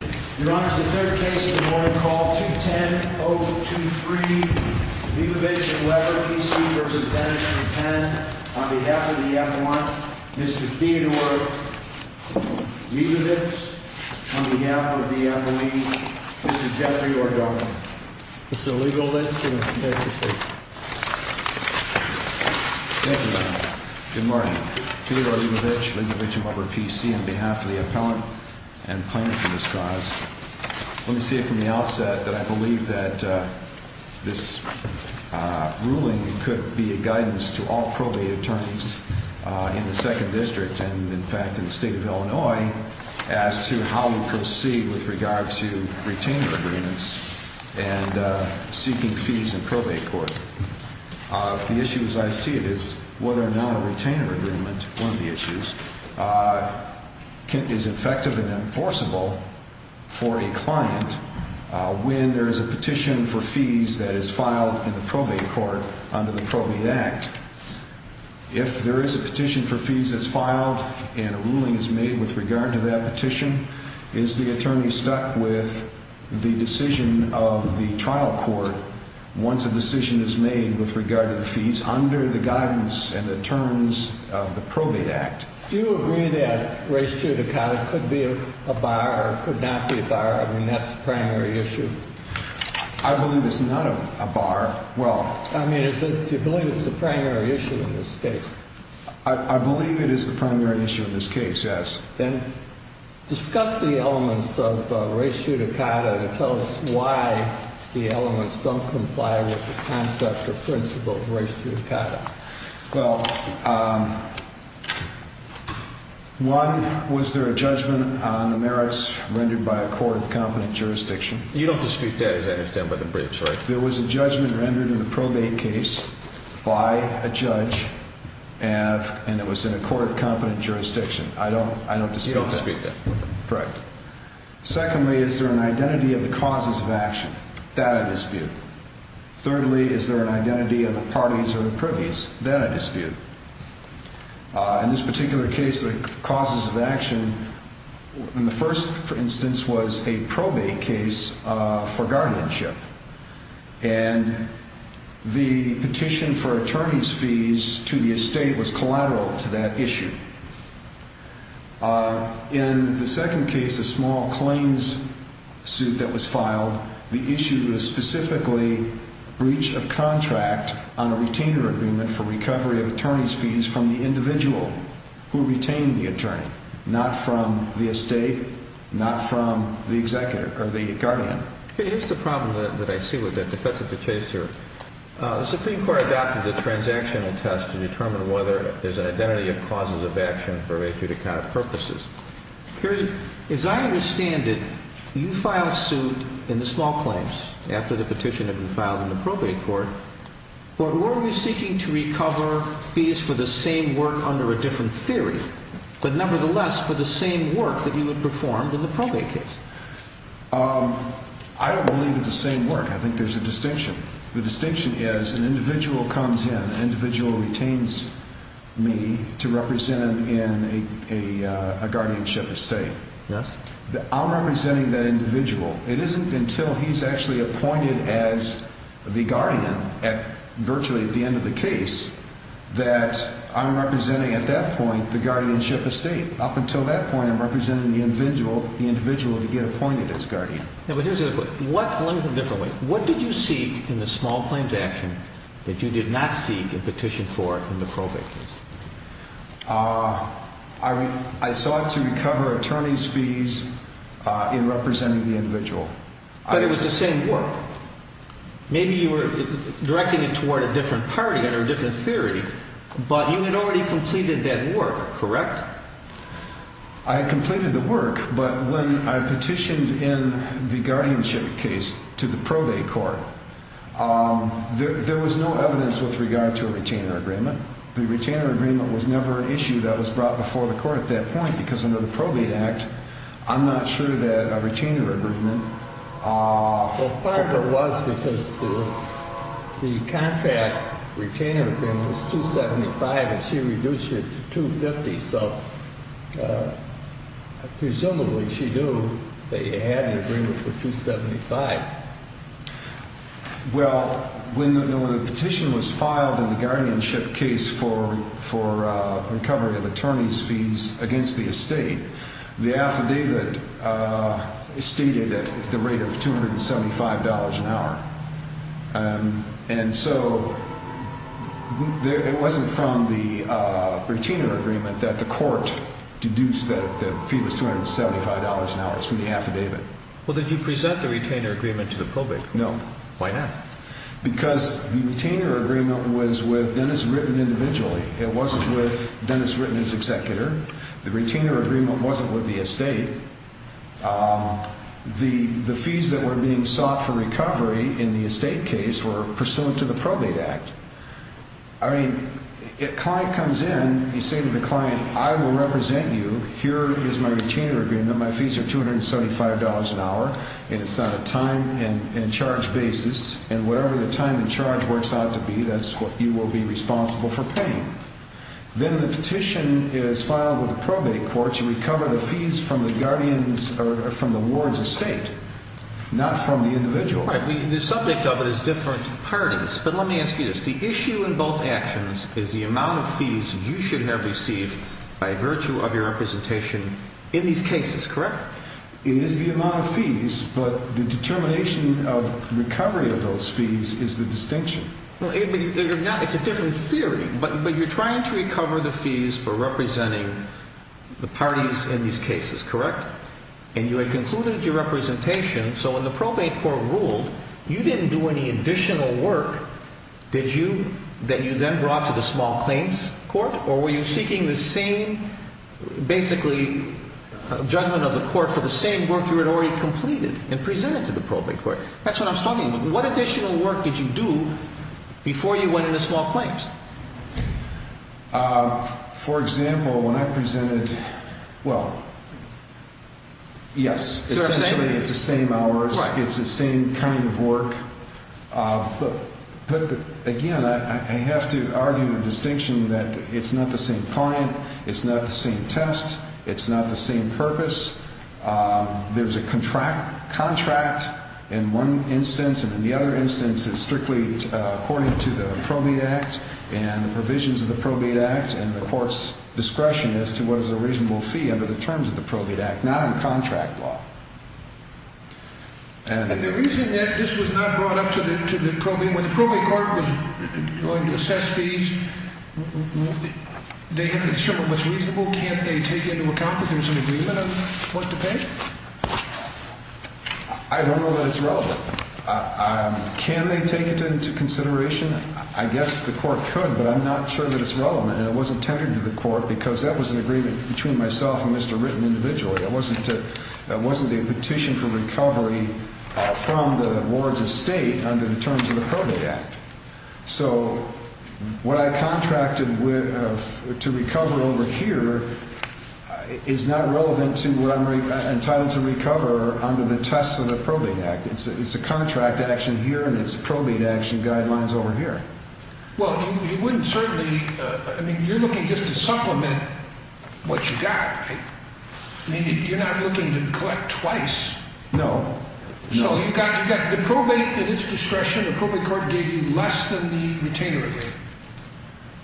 Your Honor, the third case of the morning, call 210-023, Lebovich & Weber v. Dennis v. Reutten, on behalf of the appellant, Mr. Theodore Lebovich, on behalf of the employees, Mr. Jeffrey Ordonez. Mr. Lebovich, you may proceed. Thank you, Your Honor. Good morning. Theodore Lebovich, Lebovich & Weber PC, on behalf of the appellant and plaintiff in this cause. Let me say from the outset that I believe that this ruling could be a guidance to all probate attorneys in the Second District and, in fact, in the State of Illinois as to how we proceed with regard to retainer agreements and seeking fees in probate court. One of the issues I see is whether or not a retainer agreement, one of the issues, is effective and enforceable for a client when there is a petition for fees that is filed in the probate court under the Probate Act. If there is a petition for fees that's filed and a ruling is made with regard to that petition, is the attorney stuck with the decision of the trial court once a decision is made with regard to the fees under the guidance and the terms of the Probate Act? Do you agree that race judicata could be a bar or could not be a bar? I mean, that's the primary issue. I believe it's not a bar. Well... I mean, do you believe it's the primary issue in this case? I believe it is the primary issue in this case, yes. Then discuss the elements of race judicata and tell us why the elements don't comply with the concept or principle of race judicata. Well, one, was there a judgment on the merits rendered by a court of competent jurisdiction? You don't dispute that, as I understand, by the briefs, right? There was a judgment rendered in the probate case by a judge and it was in a court of competent jurisdiction. I don't dispute that. You don't dispute that. Correct. Secondly, is there an identity of the causes of action? That I dispute. Thirdly, is there an identity of the parties or the privies? That I dispute. In this particular case, the causes of action in the first, for instance, was a probate case for guardianship. And the petition for attorney's fees to the estate was collateral to that issue. In the second case, a small claims suit that was filed, the issue was specifically breach of contract on a retainer agreement for recovery of attorney's fees from the individual who retained the attorney, not from the estate, not from the executive or the guardian. Here's the problem that I see with the defense of the case here. The Supreme Court adopted the transactional test to determine whether there's an identity of causes of action for a judicata purposes. As I understand it, you filed suit in the small claims after the petition had been filed in the probate court. But were you seeking to recover fees for the same work under a different theory, but nevertheless for the same work that you had performed in the probate case? I don't believe it's the same work. I think there's a distinction. The distinction is an individual comes in, an individual retains me to represent him in a guardianship estate. I'm representing that individual. It isn't until he's actually appointed as the guardian virtually at the end of the case that I'm representing at that point the guardianship estate. Up until that point, I'm representing the individual to get appointed as guardian. What did you seek in the small claims action that you did not seek in petition 4 in the probate case? I sought to recover attorney's fees in representing the individual. But it was the same work. Maybe you were directing it toward a different party, under a different theory, but you had already completed that work, correct? I had completed the work, but when I petitioned in the guardianship case to the probate court, there was no evidence with regard to a retainer agreement. The retainer agreement was never an issue that was brought before the court at that point because under the probate act, I'm not sure that a retainer agreement… Well, part of it was because the contract retainer agreement was $275,000 and she reduced it to $250,000, so presumably she knew that you had an agreement for $275,000. Well, when the petition was filed in the guardianship case for recovery of attorney's fees against the estate, the affidavit stated the rate of $275 an hour. And so it wasn't from the retainer agreement that the court deduced that the fee was $275 an hour from the affidavit. Well, did you present the retainer agreement to the probate court? No. Why not? Because the retainer agreement was with Dennis Ritten individually. It wasn't with Dennis Ritten as executor. The retainer agreement wasn't with the estate. The fees that were being sought for recovery in the estate case were pursuant to the probate act. I mean, if a client comes in, you say to the client, I will represent you, here is my retainer agreement, my fees are $275 an hour, and it's not a time and charge basis, and whatever the time and charge works out to be, that's what you will be responsible for paying. Then the petition is filed with the probate court to recover the fees from the ward's estate, not from the individual. The subject of it is different parties, but let me ask you this. The issue in both actions is the amount of fees you should have received by virtue of your representation in these cases, correct? It is the amount of fees, but the determination of recovery of those fees is the distinction. It's a different theory, but you're trying to recover the fees for representing the parties in these cases, correct? And you had concluded your representation, so when the probate court ruled, you didn't do any additional work, did you, that you then brought to the small claims court? Or were you seeking the same, basically, judgment of the court for the same work you had already completed and presented to the probate court? That's what I'm talking about. What additional work did you do before you went into small claims? For example, when I presented, well, yes, essentially it's the same hours, it's the same kind of work. But again, I have to argue the distinction that it's not the same client, it's not the same test, it's not the same purpose. There's a contract in one instance, and in the other instance, it's strictly according to the probate act and the provisions of the probate act, and the court's discretion as to what is a reasonable fee under the terms of the probate act, not on contract law. And the reason that this was not brought up to the probate, when the probate court was going to assess fees, they had to determine what's reasonable. Can't they take into account that there's an agreement on what to pay? I don't know that it's relevant. Can they take it into consideration? I guess the court could, but I'm not sure that it's relevant. And it wasn't tended to the court because that was an agreement between myself and Mr. Ritten individually. It wasn't a petition for recovery from the ward's estate under the terms of the probate act. So what I contracted to recover over here is not relevant to what I'm entitled to recover under the tests of the probate act. It's a contract action here, and it's probate action guidelines over here. Well, you wouldn't certainly – I mean, you're looking just to supplement what you got. I mean, you're not looking to collect twice. No. So you've got the probate at its discretion, the probate court gave you less than the retainer agreement.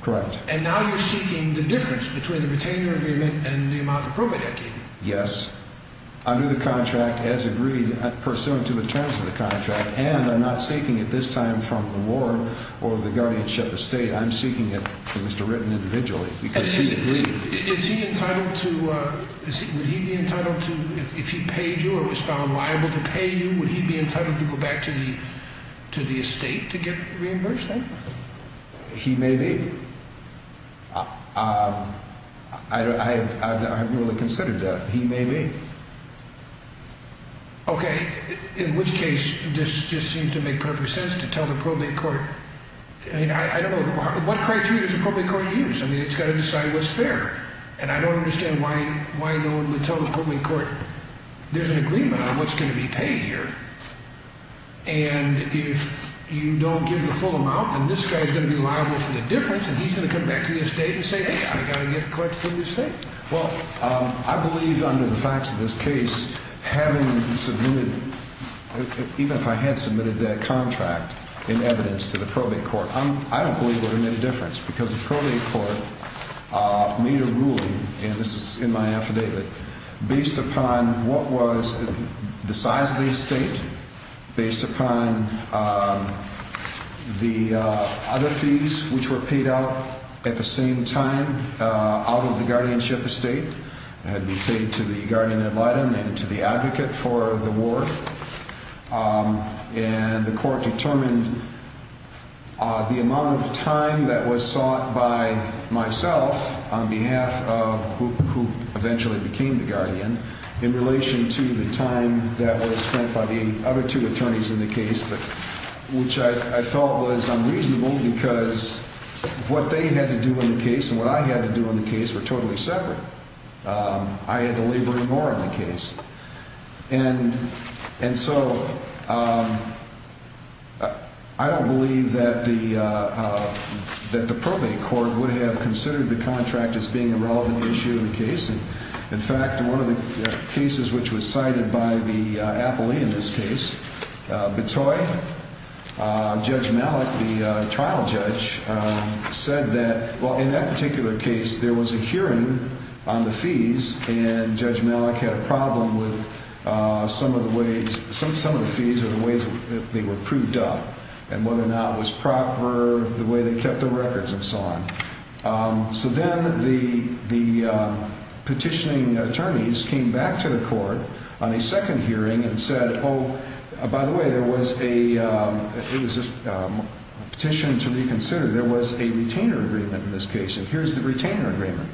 Correct. And now you're seeking the difference between the retainer agreement and the amount of probate I gave you. Yes. Under the contract as agreed pursuant to the terms of the contract, and I'm not seeking it this time from the ward or the guardianship estate. I'm seeking it from Mr. Ritten individually because he's agreed. Is he entitled to – would he be entitled to – if he paid you or was found liable to pay you, would he be entitled to go back to the estate to get reimbursed then? He may be. I haven't really considered that. He may be. Okay. In which case, this just seems to make perfect sense to tell the probate court – I mean, I don't know – what criteria does the probate court use? I mean, it's got to decide what's fair, and I don't understand why no one would tell the probate court there's an agreement on what's going to be paid here. And if you don't give the full amount, then this guy's going to be liable for the difference, and he's going to come back to the estate and say, hey, I've got to get a collection from the estate. Well, I believe under the facts of this case, having submitted – even if I had submitted that contract in evidence to the probate court, I don't believe it would have made a difference because the probate court made a ruling, and this is in my affidavit, based upon what was the size of the estate, based upon the other fees which were paid out at the same time out of the guardianship estate that had been paid to the guardian ad litem and to the advocate for the ward. And the court determined the amount of time that was sought by myself on behalf of who eventually became the guardian in relation to the time that was spent by the other two attorneys in the case, which I thought was unreasonable because what they had to do in the case and what I had to do in the case were totally separate. I had to labor in more on the case. And so I don't believe that the probate court would have considered the contract as being a relevant issue in the case. In fact, one of the cases which was cited by the appellee in this case, Betoy, Judge Malik, the trial judge, said that, well, in that particular case, there was a hearing on the fees, and Judge Malik had a problem with some of the fees or the ways that they were proved up and whether or not it was proper, the way they kept the records and so on. So then the petitioning attorneys came back to the court on a second hearing and said, oh, by the way, there was a petition to reconsider and there was a retainer agreement in this case, and here's the retainer agreement.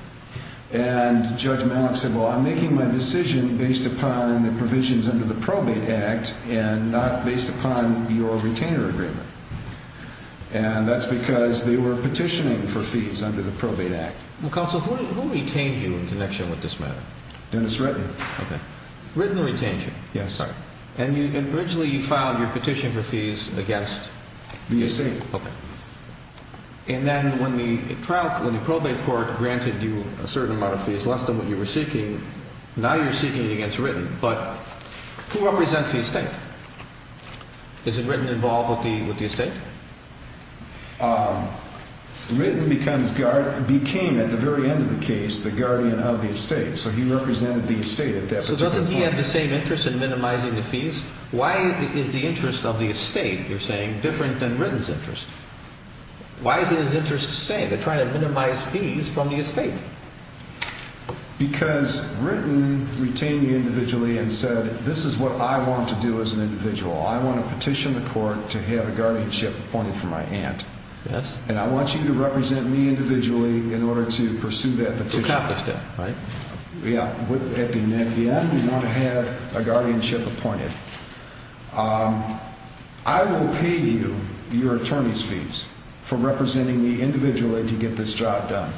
And Judge Malik said, well, I'm making my decision based upon the provisions under the Probate Act and not based upon your retainer agreement. And that's because they were petitioning for fees under the Probate Act. Well, counsel, who retained you in connection with this matter? Dennis Ritton. Okay. Ritton retained you? Yes. And originally you filed your petition for fees against? The estate. Okay. And then when the Probate Court granted you a certain amount of fees, less than what you were seeking, now you're seeking it against Ritton, but who represents the estate? Is Ritton involved with the estate? Ritton became, at the very end of the case, the guardian of the estate, so he represented the estate at that particular point. So doesn't he have the same interest in minimizing the fees? Why is the interest of the estate, you're saying, different than Ritton's interest? Why isn't his interest the same? They're trying to minimize fees from the estate. Because Ritton retained you individually and said, this is what I want to do as an individual. I want to petition the court to have a guardianship appointed for my aunt. Yes. And I want you to represent me individually in order to pursue that petition. To accomplish that, right? At the end, we want to have a guardianship appointed. I will pay you your attorney's fees for representing me individually to get this job done.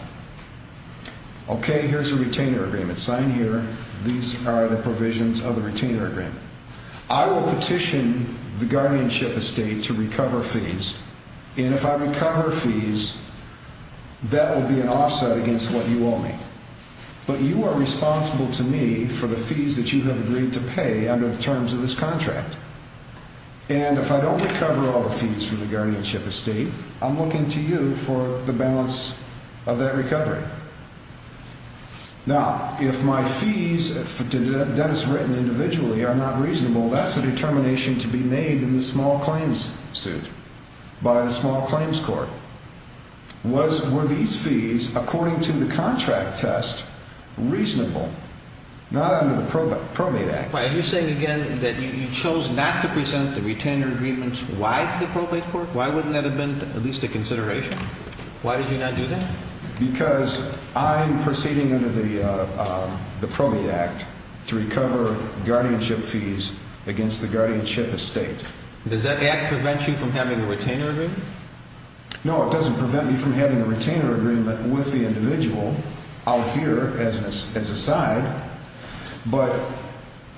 Okay, here's a retainer agreement signed here. These are the provisions of the retainer agreement. I will petition the guardianship estate to recover fees, and if I recover fees, that will be an offset against what you owe me. But you are responsible to me for the fees that you have agreed to pay under the terms of this contract. And if I don't recover all the fees from the guardianship estate, I'm looking to you for the balance of that recovery. Now, if my fees, Dennis Ritton individually, are not reasonable, that's a determination to be made in the small claims suit by the small claims court. Were these fees, according to the contract test, reasonable? Not under the probate act. Are you saying again that you chose not to present the retainer agreement? Why to the probate court? Why wouldn't that have been at least a consideration? Why did you not do that? Because I'm proceeding under the probate act to recover guardianship fees against the guardianship estate. Does that act prevent you from having a retainer agreement? No, it doesn't prevent me from having a retainer agreement with the individual out here as an aside. But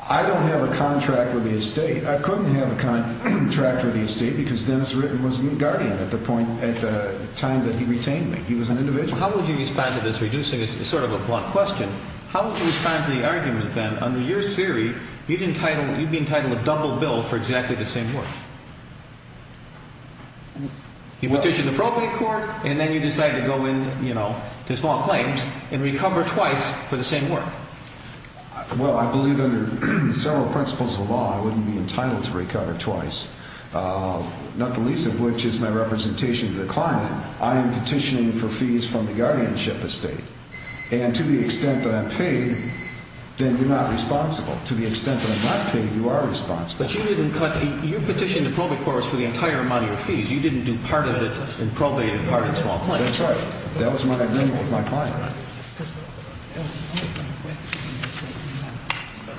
I don't have a contract with the estate. I couldn't have a contract with the estate because Dennis Ritton was my guardian at the point, at the time that he retained me. He was an individual. How would you respond to this, reducing it to sort of a blunt question? How would you respond to the argument then, under your theory, you'd be entitled to a double bill for exactly the same work? You petition the probate court, and then you decide to go in to small claims and recover twice for the same work. Well, I believe under several principles of the law I wouldn't be entitled to recover twice, not the least of which is my representation to the client. I am petitioning for fees from the guardianship estate. And to the extent that I'm paid, then you're not responsible. To the extent that I'm not paid, you are responsible. But you didn't cut the – you petitioned the probate court for the entire amount of your fees. You didn't do part of it in probate and part in small claims. That's right. That was my agreement with my client.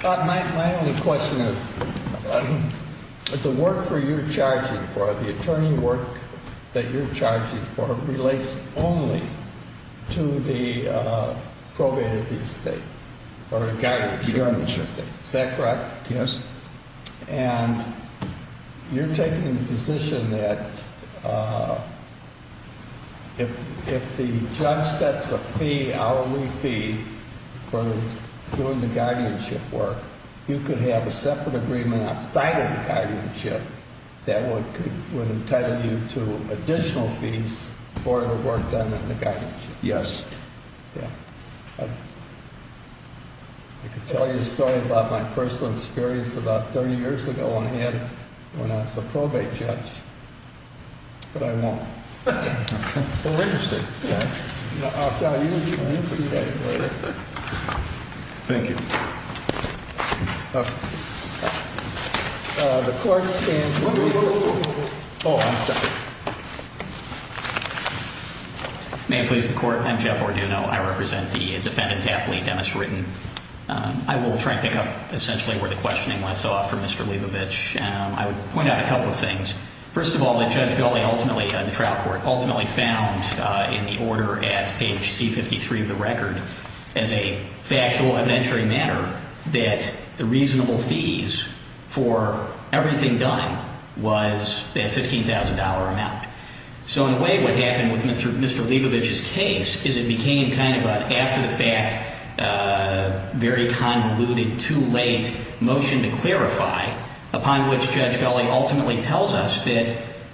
My only question is, the work that you're charging for, the attorney work that you're charging for, relates only to the probate estate or the guardianship estate. The guardianship. Is that correct? Yes. And you're taking the position that if the judge sets a fee, hourly fee, for doing the guardianship work, you could have a separate agreement outside of the guardianship that would entitle you to additional fees for the work done in the guardianship. Yes. I could tell you a story about my personal experience about 30 years ago when I was a probate judge, but I won't. We're interested. I'll tell you. Thank you. The court stands – Wait, wait, wait. Oh, I'm sorry. May it please the court. I'm Jeff Orduno. I represent the defendant Tapley, Dennis Ritten. I will try to pick up essentially where the questioning left off from Mr. Leibovich. I would point out a couple of things. First of all, the trial court ultimately found in the order at page C53 of the record, as a factual, evidentiary matter, that the reasonable fees for everything done was that $15,000 amount. So in a way, what happened with Mr. Leibovich's case is it became kind of an after-the-fact, very convoluted, too-late motion to clarify, upon which Judge Gulley ultimately tells us that,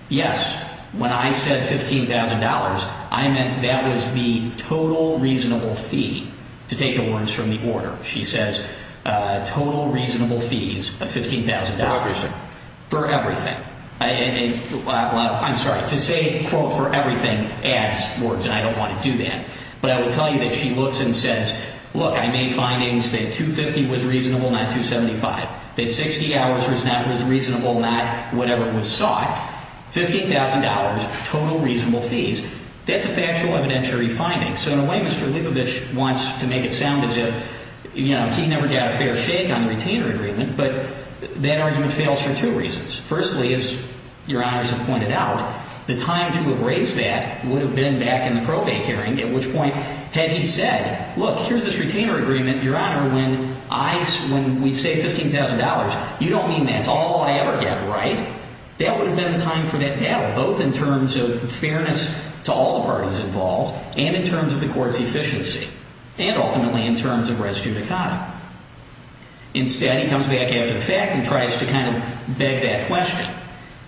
yes, when I said $15,000, I meant that was the total reasonable fee, to take the words from the order. She says total reasonable fees of $15,000. For everything. For everything. I'm sorry. To say, quote, for everything adds words, and I don't want to do that. But I will tell you that she looks and says, look, I made findings that $250,000 was reasonable, not $275,000. That $60,000 was reasonable, not whatever was sought. $15,000, total reasonable fees. That's a factual, evidentiary finding. So in a way, Mr. Leibovich wants to make it sound as if he never got a fair shake on the retainer agreement. But that argument fails for two reasons. Firstly, as Your Honors have pointed out, the time to have raised that would have been back in the probate hearing, at which point had he said, look, here's this retainer agreement, Your Honor, when we say $15,000, you don't mean that's all I ever get, right? That would have been the time for that battle, both in terms of fairness to all the parties involved, and in terms of the court's efficiency, and ultimately in terms of res judicata. Instead, he comes back after the fact and tries to kind of beg that question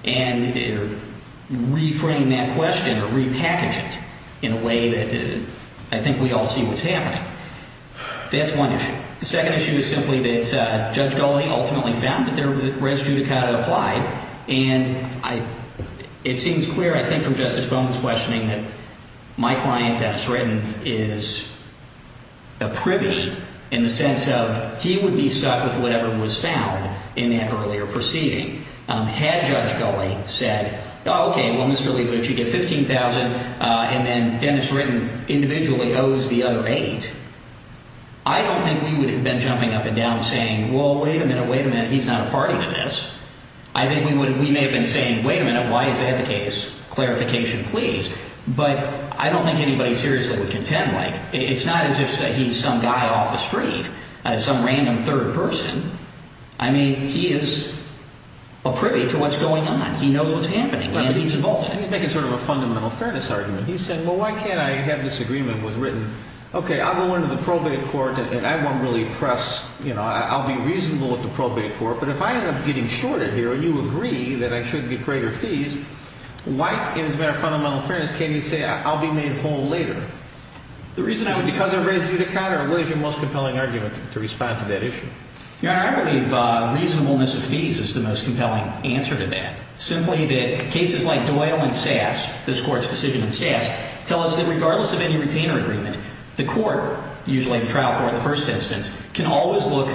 and reframe that question or repackage it in a way that I think we all see what's happening. That's one issue. The second issue is simply that Judge Gulley ultimately found that the res judicata applied. And it seems clear, I think, from Justice Bowman's questioning that my client, Dennis Ritten, is a privy in the sense of he would be stuck with whatever was found in that earlier proceeding. Had Judge Gulley said, okay, well, Mr. Leibovich, you get $15,000, and then Dennis Ritten individually owes the other $8,000, I don't think we would have been jumping up and down saying, well, wait a minute, wait a minute, he's not a party to this. I think we may have been saying, wait a minute, why is that the case? Clarification, please. But I don't think anybody seriously would contend. Like, it's not as if he's some guy off the street, some random third person. I mean, he is a privy to what's going on. He knows what's happening, and he's involved in it. He's making sort of a fundamental fairness argument. He said, well, why can't I have this agreement with Ritten? Okay, I'll go into the probate court, and I won't really press – I'll be reasonable with the probate court. But if I end up getting shorted here, and you agree that I should get greater fees, why, as a matter of fundamental fairness, can't he say I'll be made whole later? The reason I would say that – Because of residue to count, or what is your most compelling argument to respond to that issue? Your Honor, I believe reasonableness of fees is the most compelling answer to that. Simply that cases like Doyle and Sass, this Court's decision in Sass, tell us that regardless of any retainer agreement, the court, usually the trial court in the first instance, can always look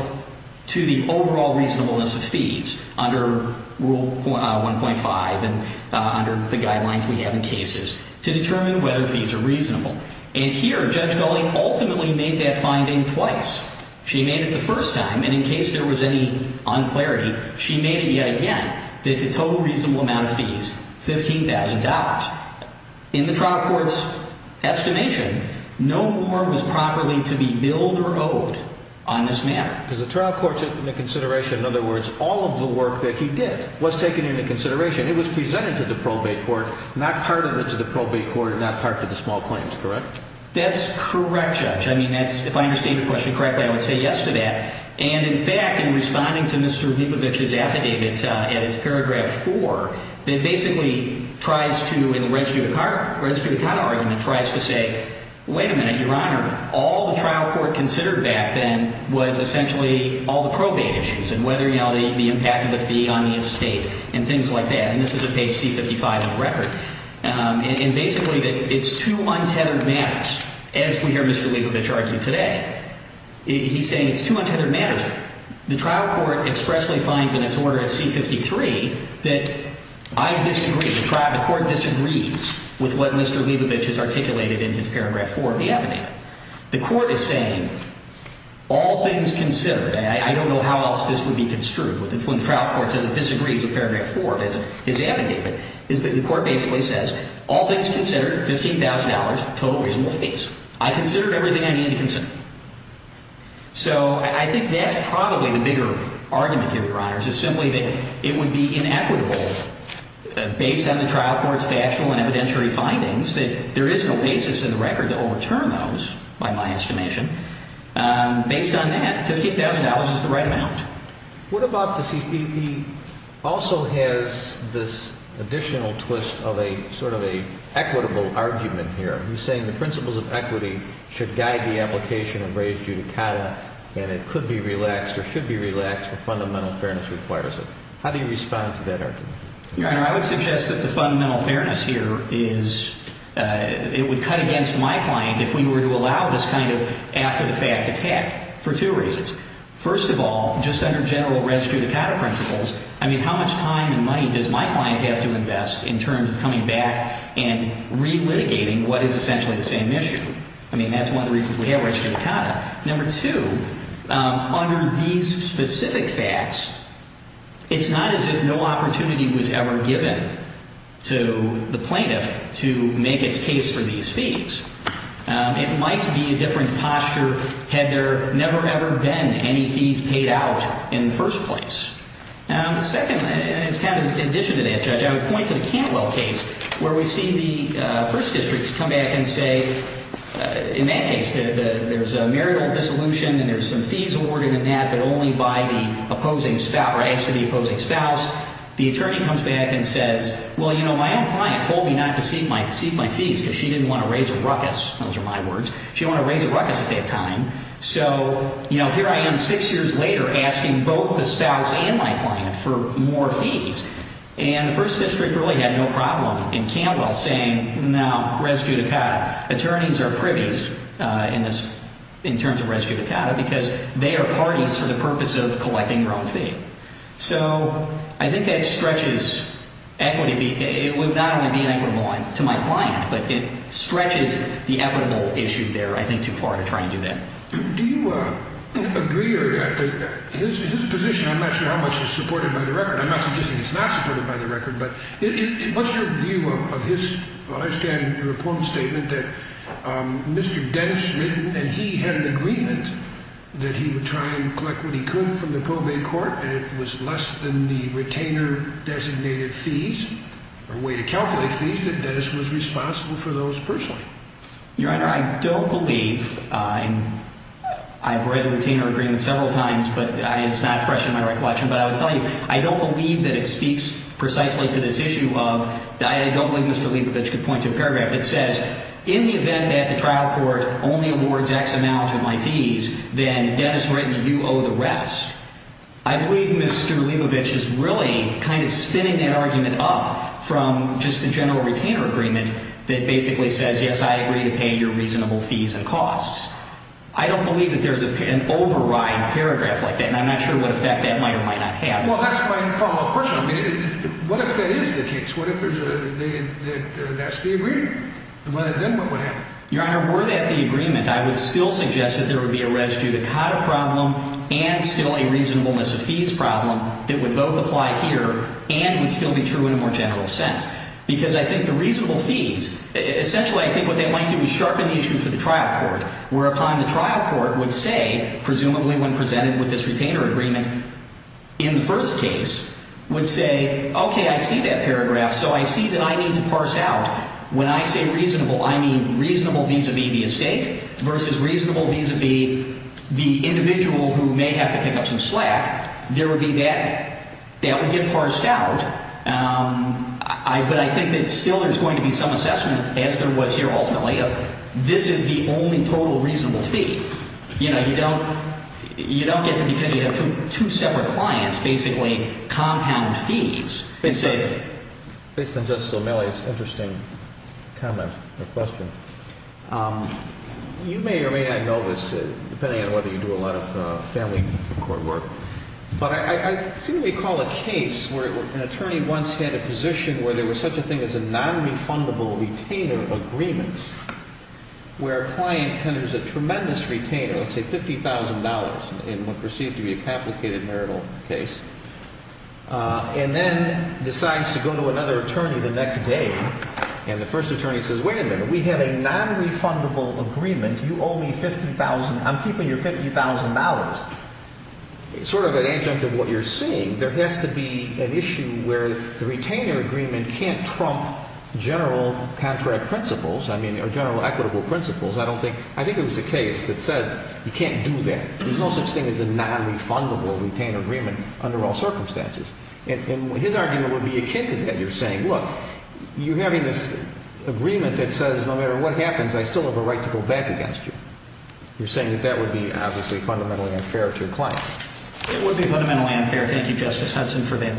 to the overall reasonableness of fees under Rule 1.5 and under the guidelines we have in cases to determine whether fees are reasonable. And here, Judge Gulley ultimately made that finding twice. She made it the first time, and in case there was any unclarity, she made it yet again, that the total reasonable amount of fees, $15,000. In the trial court's estimation, no more was properly to be billed or owed on this matter. Because the trial court took into consideration, in other words, all of the work that he did was taken into consideration. It was presented to the probate court, not part of it to the probate court, not part to the small claims, correct? That's correct, Judge. I mean, that's, if I understand your question correctly, I would say yes to that. And in fact, in responding to Mr. Lipovich's affidavit in its paragraph 4, it basically tries to, in the registry of account argument, tries to say, wait a minute, Your Honor, all the trial court considered back then was essentially all the probate issues and whether, you know, the impact of the fee on the estate and things like that. And this is at page C-55 of the record. And basically, it's two untethered matters. As we hear Mr. Lipovich argue today, he's saying it's two untethered matters. The trial court expressly finds in its order at C-53 that I disagree. The court disagrees with what Mr. Lipovich has articulated in his paragraph 4 of the affidavit. The court is saying all things considered, I don't know how else this would be construed. When the trial court says it disagrees with paragraph 4 of his affidavit, the court basically says all things considered, $15,000, total reasonable fees. I considered everything I needed to consider. So I think that's probably the bigger argument here, Your Honors, is simply that it would be inequitable based on the trial court's factual and evidentiary findings that there is no basis in the record to overturn those, by my estimation. Based on that, $15,000 is the right amount. What about the C-53 also has this additional twist of a sort of an equitable argument here? He's saying the principles of equity should guide the application of raised judicata, and it could be relaxed or should be relaxed if fundamental fairness requires it. How do you respond to that argument? Your Honor, I would suggest that the fundamental fairness here is it would cut against my client if we were to allow this kind of after-the-fact attack for two reasons. First of all, just under general raised judicata principles, I mean, how much time and money does my client have to invest in terms of coming back and relitigating what is essentially the same issue? I mean, that's one of the reasons we have raised judicata. Number two, under these specific facts, it's not as if no opportunity was ever given to the plaintiff to make its case for these fees. It might be a different posture had there never, ever been any fees paid out in the first place. Second, and it's kind of in addition to that, Judge, I would point to the Cantwell case where we see the First Districts come back and say, in that case, there's a marital dissolution and there's some fees awarded in that, but only by the opposing spouse. The attorney comes back and says, well, you know, my own client told me not to seek my fees because she didn't want to raise a ruckus. Those are my words. She didn't want to raise a ruckus at that time. So, you know, here I am six years later asking both the spouse and my client for more fees. And the First District really had no problem in Cantwell saying, no, res judicata. Attorneys are privy in this in terms of res judicata because they are parties for the purpose of collecting their own fee. So I think that stretches equity. It would not only be an equitable line to my client, but it stretches the equitable issue there, I think, too far to try and do that. Do you agree or his position? I'm not sure how much is supported by the record. I'm not suggesting it's not supported by the record. But what's your view of this? I understand your point statement that Mr. Dennis and he had an agreement that he would try and collect what he could from the probate court. And it was less than the retainer designated fees or way to calculate fees that Dennis was responsible for those personally. Your Honor, I don't believe I'm I've read the retainer agreement several times, but it's not fresh in my recollection. But I would tell you, I don't believe that it speaks precisely to this issue of I don't believe Mr. Leibovitch could point to a paragraph that says in the event that the trial court only awards X amount of my fees, then Dennis Wright and you owe the rest. I believe Mr. Leibovitch is really kind of spinning that argument up from just the general retainer agreement that basically says, yes, I agree to pay your reasonable fees and costs. I don't believe that there is an override paragraph like that. And I'm not sure what effect that might or might not have. Well, that's my personal opinion. What if that is the case? What if that's the agreement? Well, then what would happen? Your Honor, were that the agreement, I would still suggest that there would be a res judicata problem and still a reasonableness of fees problem that would both apply here and would still be true in a more general sense. Because I think the reasonable fees, essentially, I think what they might do is sharpen the issue for the trial court. Whereupon the trial court would say, presumably when presented with this retainer agreement in the first case, would say, okay, I see that paragraph. So I see that I need to parse out. When I say reasonable, I mean reasonable vis-a-vis the estate versus reasonable vis-a-vis the individual who may have to pick up some slack. There would be that. That would get parsed out. But I think that still there's going to be some assessment, as there was here ultimately, of this is the only total reasonable fee. You know, you don't get to because you have two separate clients, basically compound fees. Based on Justice O'Malley's interesting comment or question, you may or may not know this, depending on whether you do a lot of family court work, but I seem to recall a case where an attorney once had a position where there was such a thing as a nonrefundable retainer agreement, where a client tenders a tremendous retainer, let's say $50,000 in what was perceived to be a complicated marital case, and then decides to go to another attorney the next day. And the first attorney says, wait a minute, we have a nonrefundable agreement. You owe me $50,000. I'm keeping your $50,000. It's sort of an adjunct of what you're seeing. There has to be an issue where the retainer agreement can't trump general contract principles, I mean, or general equitable principles. I don't think – I think there was a case that said you can't do that. There's no such thing as a nonrefundable retainer agreement under all circumstances. And his argument would be akin to that. You're saying, look, you're having this agreement that says no matter what happens, I still have a right to go back against you. You're saying that that would be, obviously, fundamentally unfair to your client. It would be fundamentally unfair. Thank you, Justice Hudson, for that.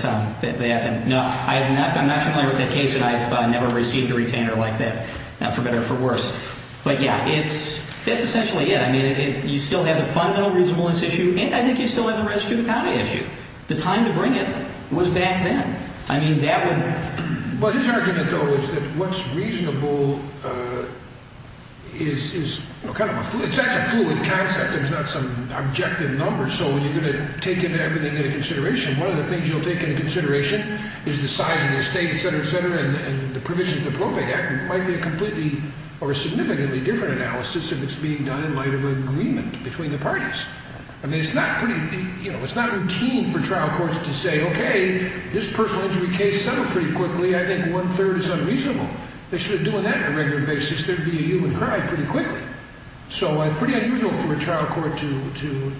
No, I'm not familiar with that case, and I've never received a retainer like that, for better or for worse. But, yeah, that's essentially it. I mean, you still have the fundamental reasonableness issue, and I think you still have the rest of the county issue. The time to bring it was back then. I mean, that would – Well, his argument, though, is that what's reasonable is kind of a – it's actually a fluid concept. There's not some objective number, so you're going to take everything into consideration. One of the things you'll take into consideration is the size of the estate, et cetera, et cetera, and the provisions of the Appropriate Act might be a completely or a significantly different analysis if it's being done in light of an agreement between the parties. I mean, it's not pretty – you know, it's not routine for trial courts to say, Okay, this personal injury case settled pretty quickly. I think one-third is unreasonable. They should have done that on a regular basis. There would be a human cry pretty quickly. So it's pretty unusual for a trial court to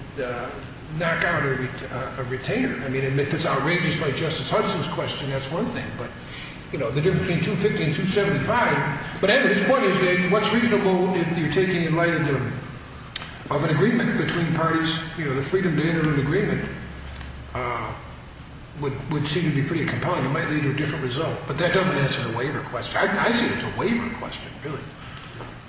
knock out a retainer. I mean, if it's outrageous like Justice Hudson's question, that's one thing. But, you know, the difference between 250 and 275 – But anyway, his point is that what's reasonable if you're taking it in light of an agreement between parties, you know, the freedom to enter an agreement would seem to be pretty compelling. It might lead to a different result. But that doesn't answer the waiver question. I see it as a waiver question, really.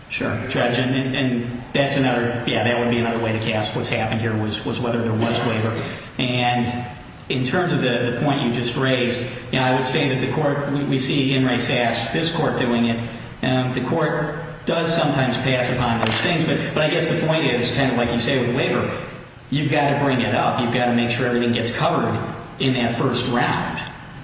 Sure. Judge, and that's another – yeah, that would be another way to cast what's happened here was whether there was waiver. And in terms of the point you just raised, you know, I would say that the court – we see Enright Sass, this court, doing it. The court does sometimes pass upon those things. But I guess the point is, kind of like you say with the waiver, you've got to bring it up. You've got to make sure everything gets covered in that first round.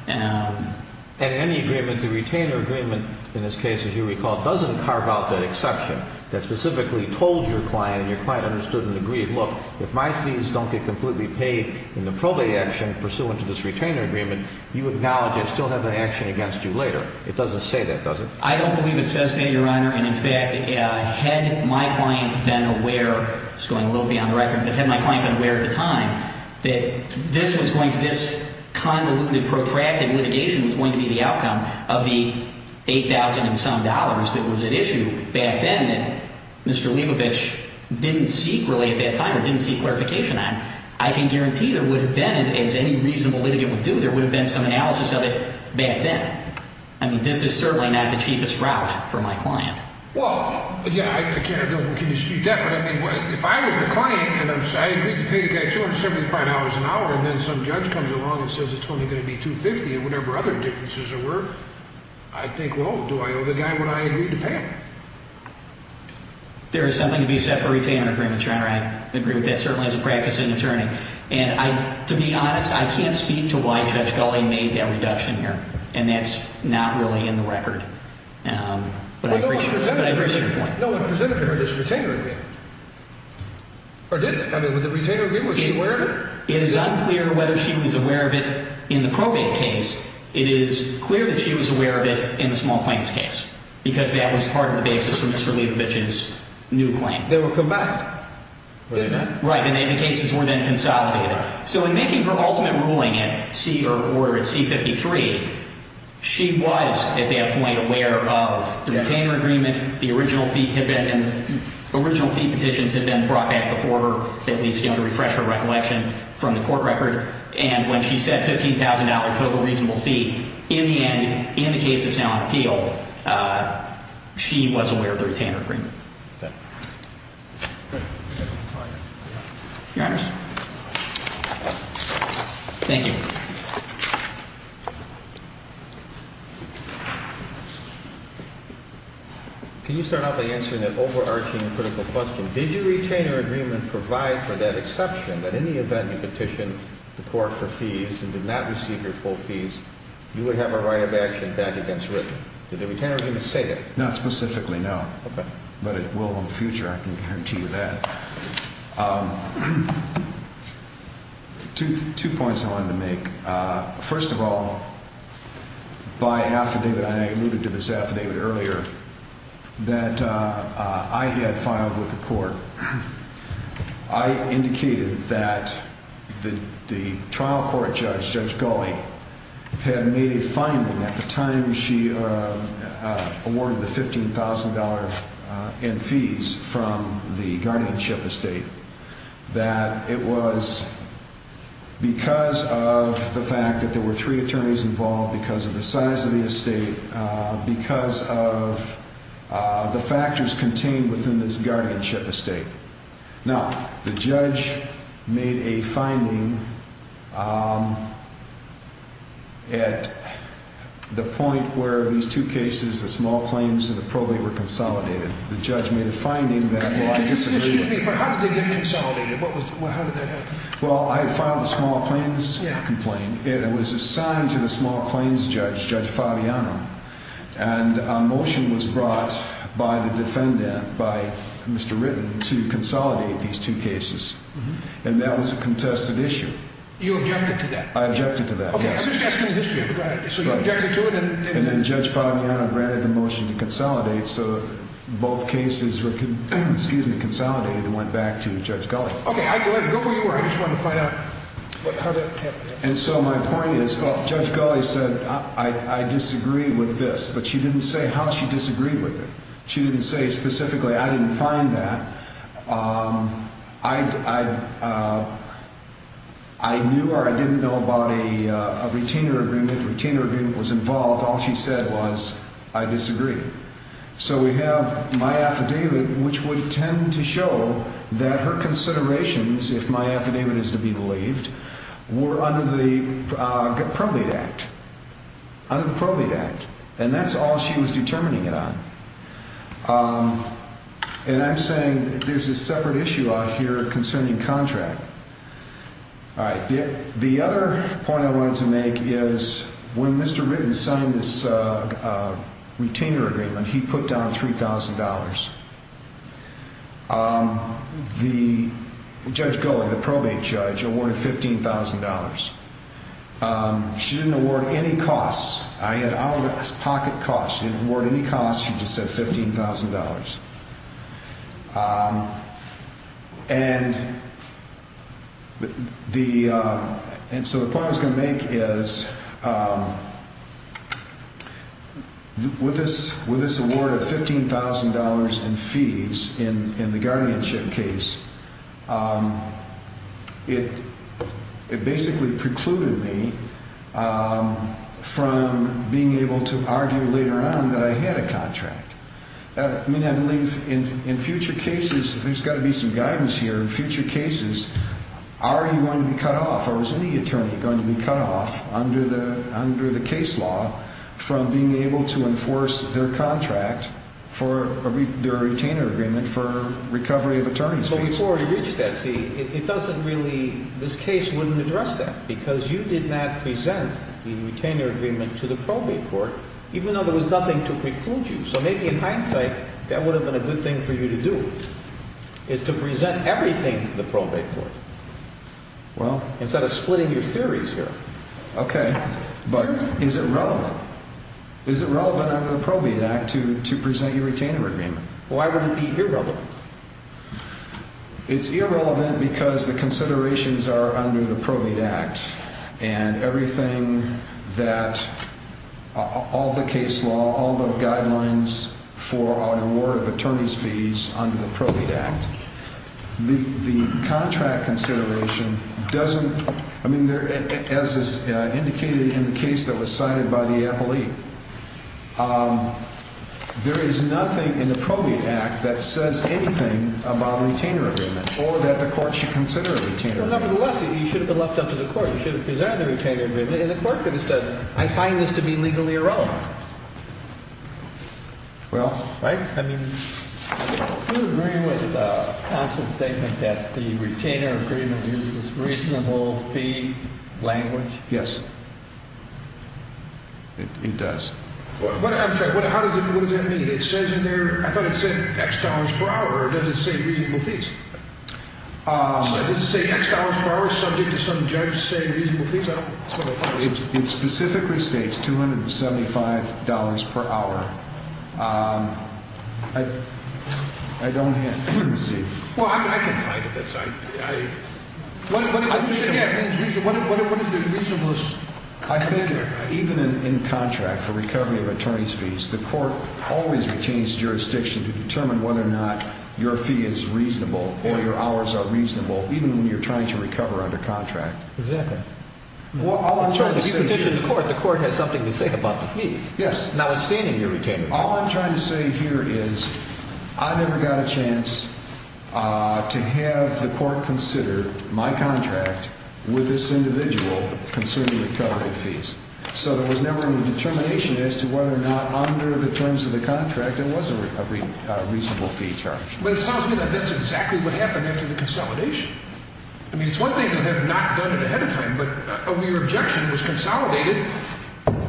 And any agreement, the retainer agreement in this case, as you recall, doesn't carve out that exception that specifically told your client and your client understood and agreed, look, if my fees don't get completely paid in the probate action pursuant to this retainer agreement, you acknowledge I still have an action against you later. It doesn't say that, does it? I don't believe it says that, Your Honor. And, in fact, had my client been aware – this is going a little beyond the record – but had my client been aware at the time that this was going – this convoluted, protracted litigation was going to be the outcome of the $8,000-and-some that was at issue back then that Mr. Leibovich didn't seek, really, at that time or didn't seek clarification on, I can guarantee there would have been, as any reasonable litigant would do, there would have been some analysis of it back then. I mean, this is certainly not the cheapest route for my client. Well, yeah, I can't – can you speak to that? But, I mean, if I was the client and I agreed to pay the guy $275 an hour and then some judge comes along and says it's only going to be $250 and whatever other differences there were, I'd think, well, do I owe the guy what I agreed to pay him? There is something to be said for a retainer agreement, Your Honor. I agree with that, certainly, as a practicing attorney. And, to be honest, I can't speak to why Judge Gulley made that reduction here. And that's not really in the record. But I appreciate your point. No, it presented to her this retainer agreement. Or did it? I mean, was it a retainer agreement? Was she aware of it? It is unclear whether she was aware of it in the probate case. It is clear that she was aware of it in the small claims case because that was part of the basis for Mr. Leibovich's new claim. They were combined. Right, and the cases were then consolidated. So, in making her ultimate ruling at C or order at C-53, she was, at that point, aware of the retainer agreement. The original fee had been, original fee petitions had been brought back before her, at least, you know, to refresh her recollection from the court record. And when she said $15,000 total reasonable fee, in the end, in the cases now on appeal, she was aware of the retainer agreement. Thank you. Your Honors. Thank you. Can you start out by answering that overarching critical question? Did your retainer agreement provide for that exception, that in the event you petitioned the court for fees and did not receive your full fees, you would have a right of action back against Ripken? Did the retainer agreement say that? Not specifically, no. But it will in the future, I can guarantee you that. Two points I wanted to make. First of all, by affidavit, and I alluded to this affidavit earlier, that I had filed with the court, I indicated that the trial court judge, Judge Gulley, had made a finding at the time she awarded the $15,000 in fees from the guardianship estate, that it was because of the fact that there were three attorneys involved, because of the size of the estate, because of the factors contained within this guardianship estate. Now, the judge made a finding at the point where these two cases, the small claims and the probate, were consolidated. The judge made a finding that... Excuse me, but how did they get consolidated? How did that happen? Well, I had filed the small claims complaint. It was assigned to the small claims judge, Judge Fabiano, and a motion was brought by the defendant, by Mr. Ritten, to consolidate these two cases. And that was a contested issue. You objected to that? I objected to that, yes. Okay, I'm just asking the history. Go ahead. So you objected to it? And then Judge Fabiano granted the motion to consolidate, so both cases were consolidated and went back to Judge Gulley. Okay, go where you were. I just wanted to find out how that happened. And so my point is, Judge Gulley said, I disagree with this, but she didn't say how she disagreed with it. She didn't say specifically, I didn't find that. I knew or I didn't know about a retainer agreement. A retainer agreement was involved. All she said was, I disagree. So we have my affidavit, which would tend to show that her considerations, if my affidavit is to be believed, were under the probate act. Under the probate act. And that's all she was determining it on. And I'm saying there's a separate issue out here concerning contract. All right. The other point I wanted to make is when Mr. Ritten signed this retainer agreement, he put down $3,000. The Judge Gulley, the probate judge, awarded $15,000. She didn't award any costs. I had out of pocket costs. She didn't award any costs. She just said $15,000. And so the point I was going to make is with this award of $15,000 in fees in the guardianship case, it basically precluded me from being able to argue later on that I had a contract. I mean, I believe in future cases there's got to be some guidance here. In future cases, are you going to be cut off or is any attorney going to be cut off under the case law from being able to enforce their contract for their retainer agreement for recovery of attorneys' fees? But before we reach that, see, it doesn't really – this case wouldn't address that because you did not present the retainer agreement to the probate court, even though there was nothing to preclude you. So maybe in hindsight, that would have been a good thing for you to do, is to present everything to the probate court instead of splitting your theories here. Okay, but is it relevant? Is it relevant under the Probate Act to present your retainer agreement? Why would it be irrelevant? It's irrelevant because the considerations are under the Probate Act and everything that – all the case law, all the guidelines for an award of attorneys' fees under the Probate Act. The contract consideration doesn't – I mean, as is indicated in the case that was cited by the appellee, there is nothing in the Probate Act that says anything about a retainer agreement or that the court should consider a retainer agreement. Well, nevertheless, you should have been left up to the court. You should have presented the retainer agreement, and the court could have said, I find this to be legally irrelevant. Well – Right? I mean, do you agree with counsel's statement that the retainer agreement uses reasonable fee language? Yes. It does. I'm sorry. What does that mean? It says in there – I thought it said X dollars per hour, or does it say reasonable fees? It doesn't say X dollars per hour. It's subject to some judge saying reasonable fees. It specifically states $275 per hour. I don't see – Well, I can fight with this. What is the reasonablest – I think even in contract for recovery of attorneys' fees, the court always retains jurisdiction to determine whether or not your fee is reasonable or your hours are reasonable, even when you're trying to recover under contract. Exactly. If you petition the court, the court has something to say about the fees. Yes. Notwithstanding your retainer fee. All I'm trying to say here is I never got a chance to have the court consider my contract with this individual concerning recovery fees. So there was never a determination as to whether or not under the terms of the contract there was a reasonable fee charge. But it sounds to me like that's exactly what happened after the consolidation. I mean, it's one thing to have not done it ahead of time, but when your objection was consolidated,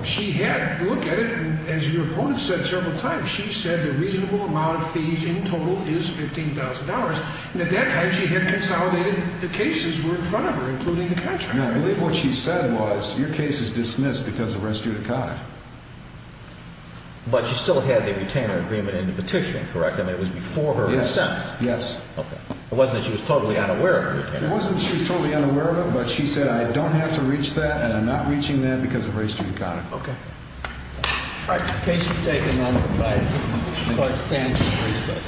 she had looked at it, and as your opponent said several times, she said the reasonable amount of fees in total is $15,000, and at that time she had consolidated the cases that were in front of her, including the contract. No, I believe what she said was your case is dismissed because of res judicata. But she still had the retainer agreement in the petition, correct? I mean, it was before her recess. Yes. Okay. It wasn't that she was totally unaware of the retainer agreement. It wasn't that she was totally unaware of it, but she said, I don't have to reach that, and I'm not reaching that because of res judicata. All right. Case is taken on the device. The court stands at recess.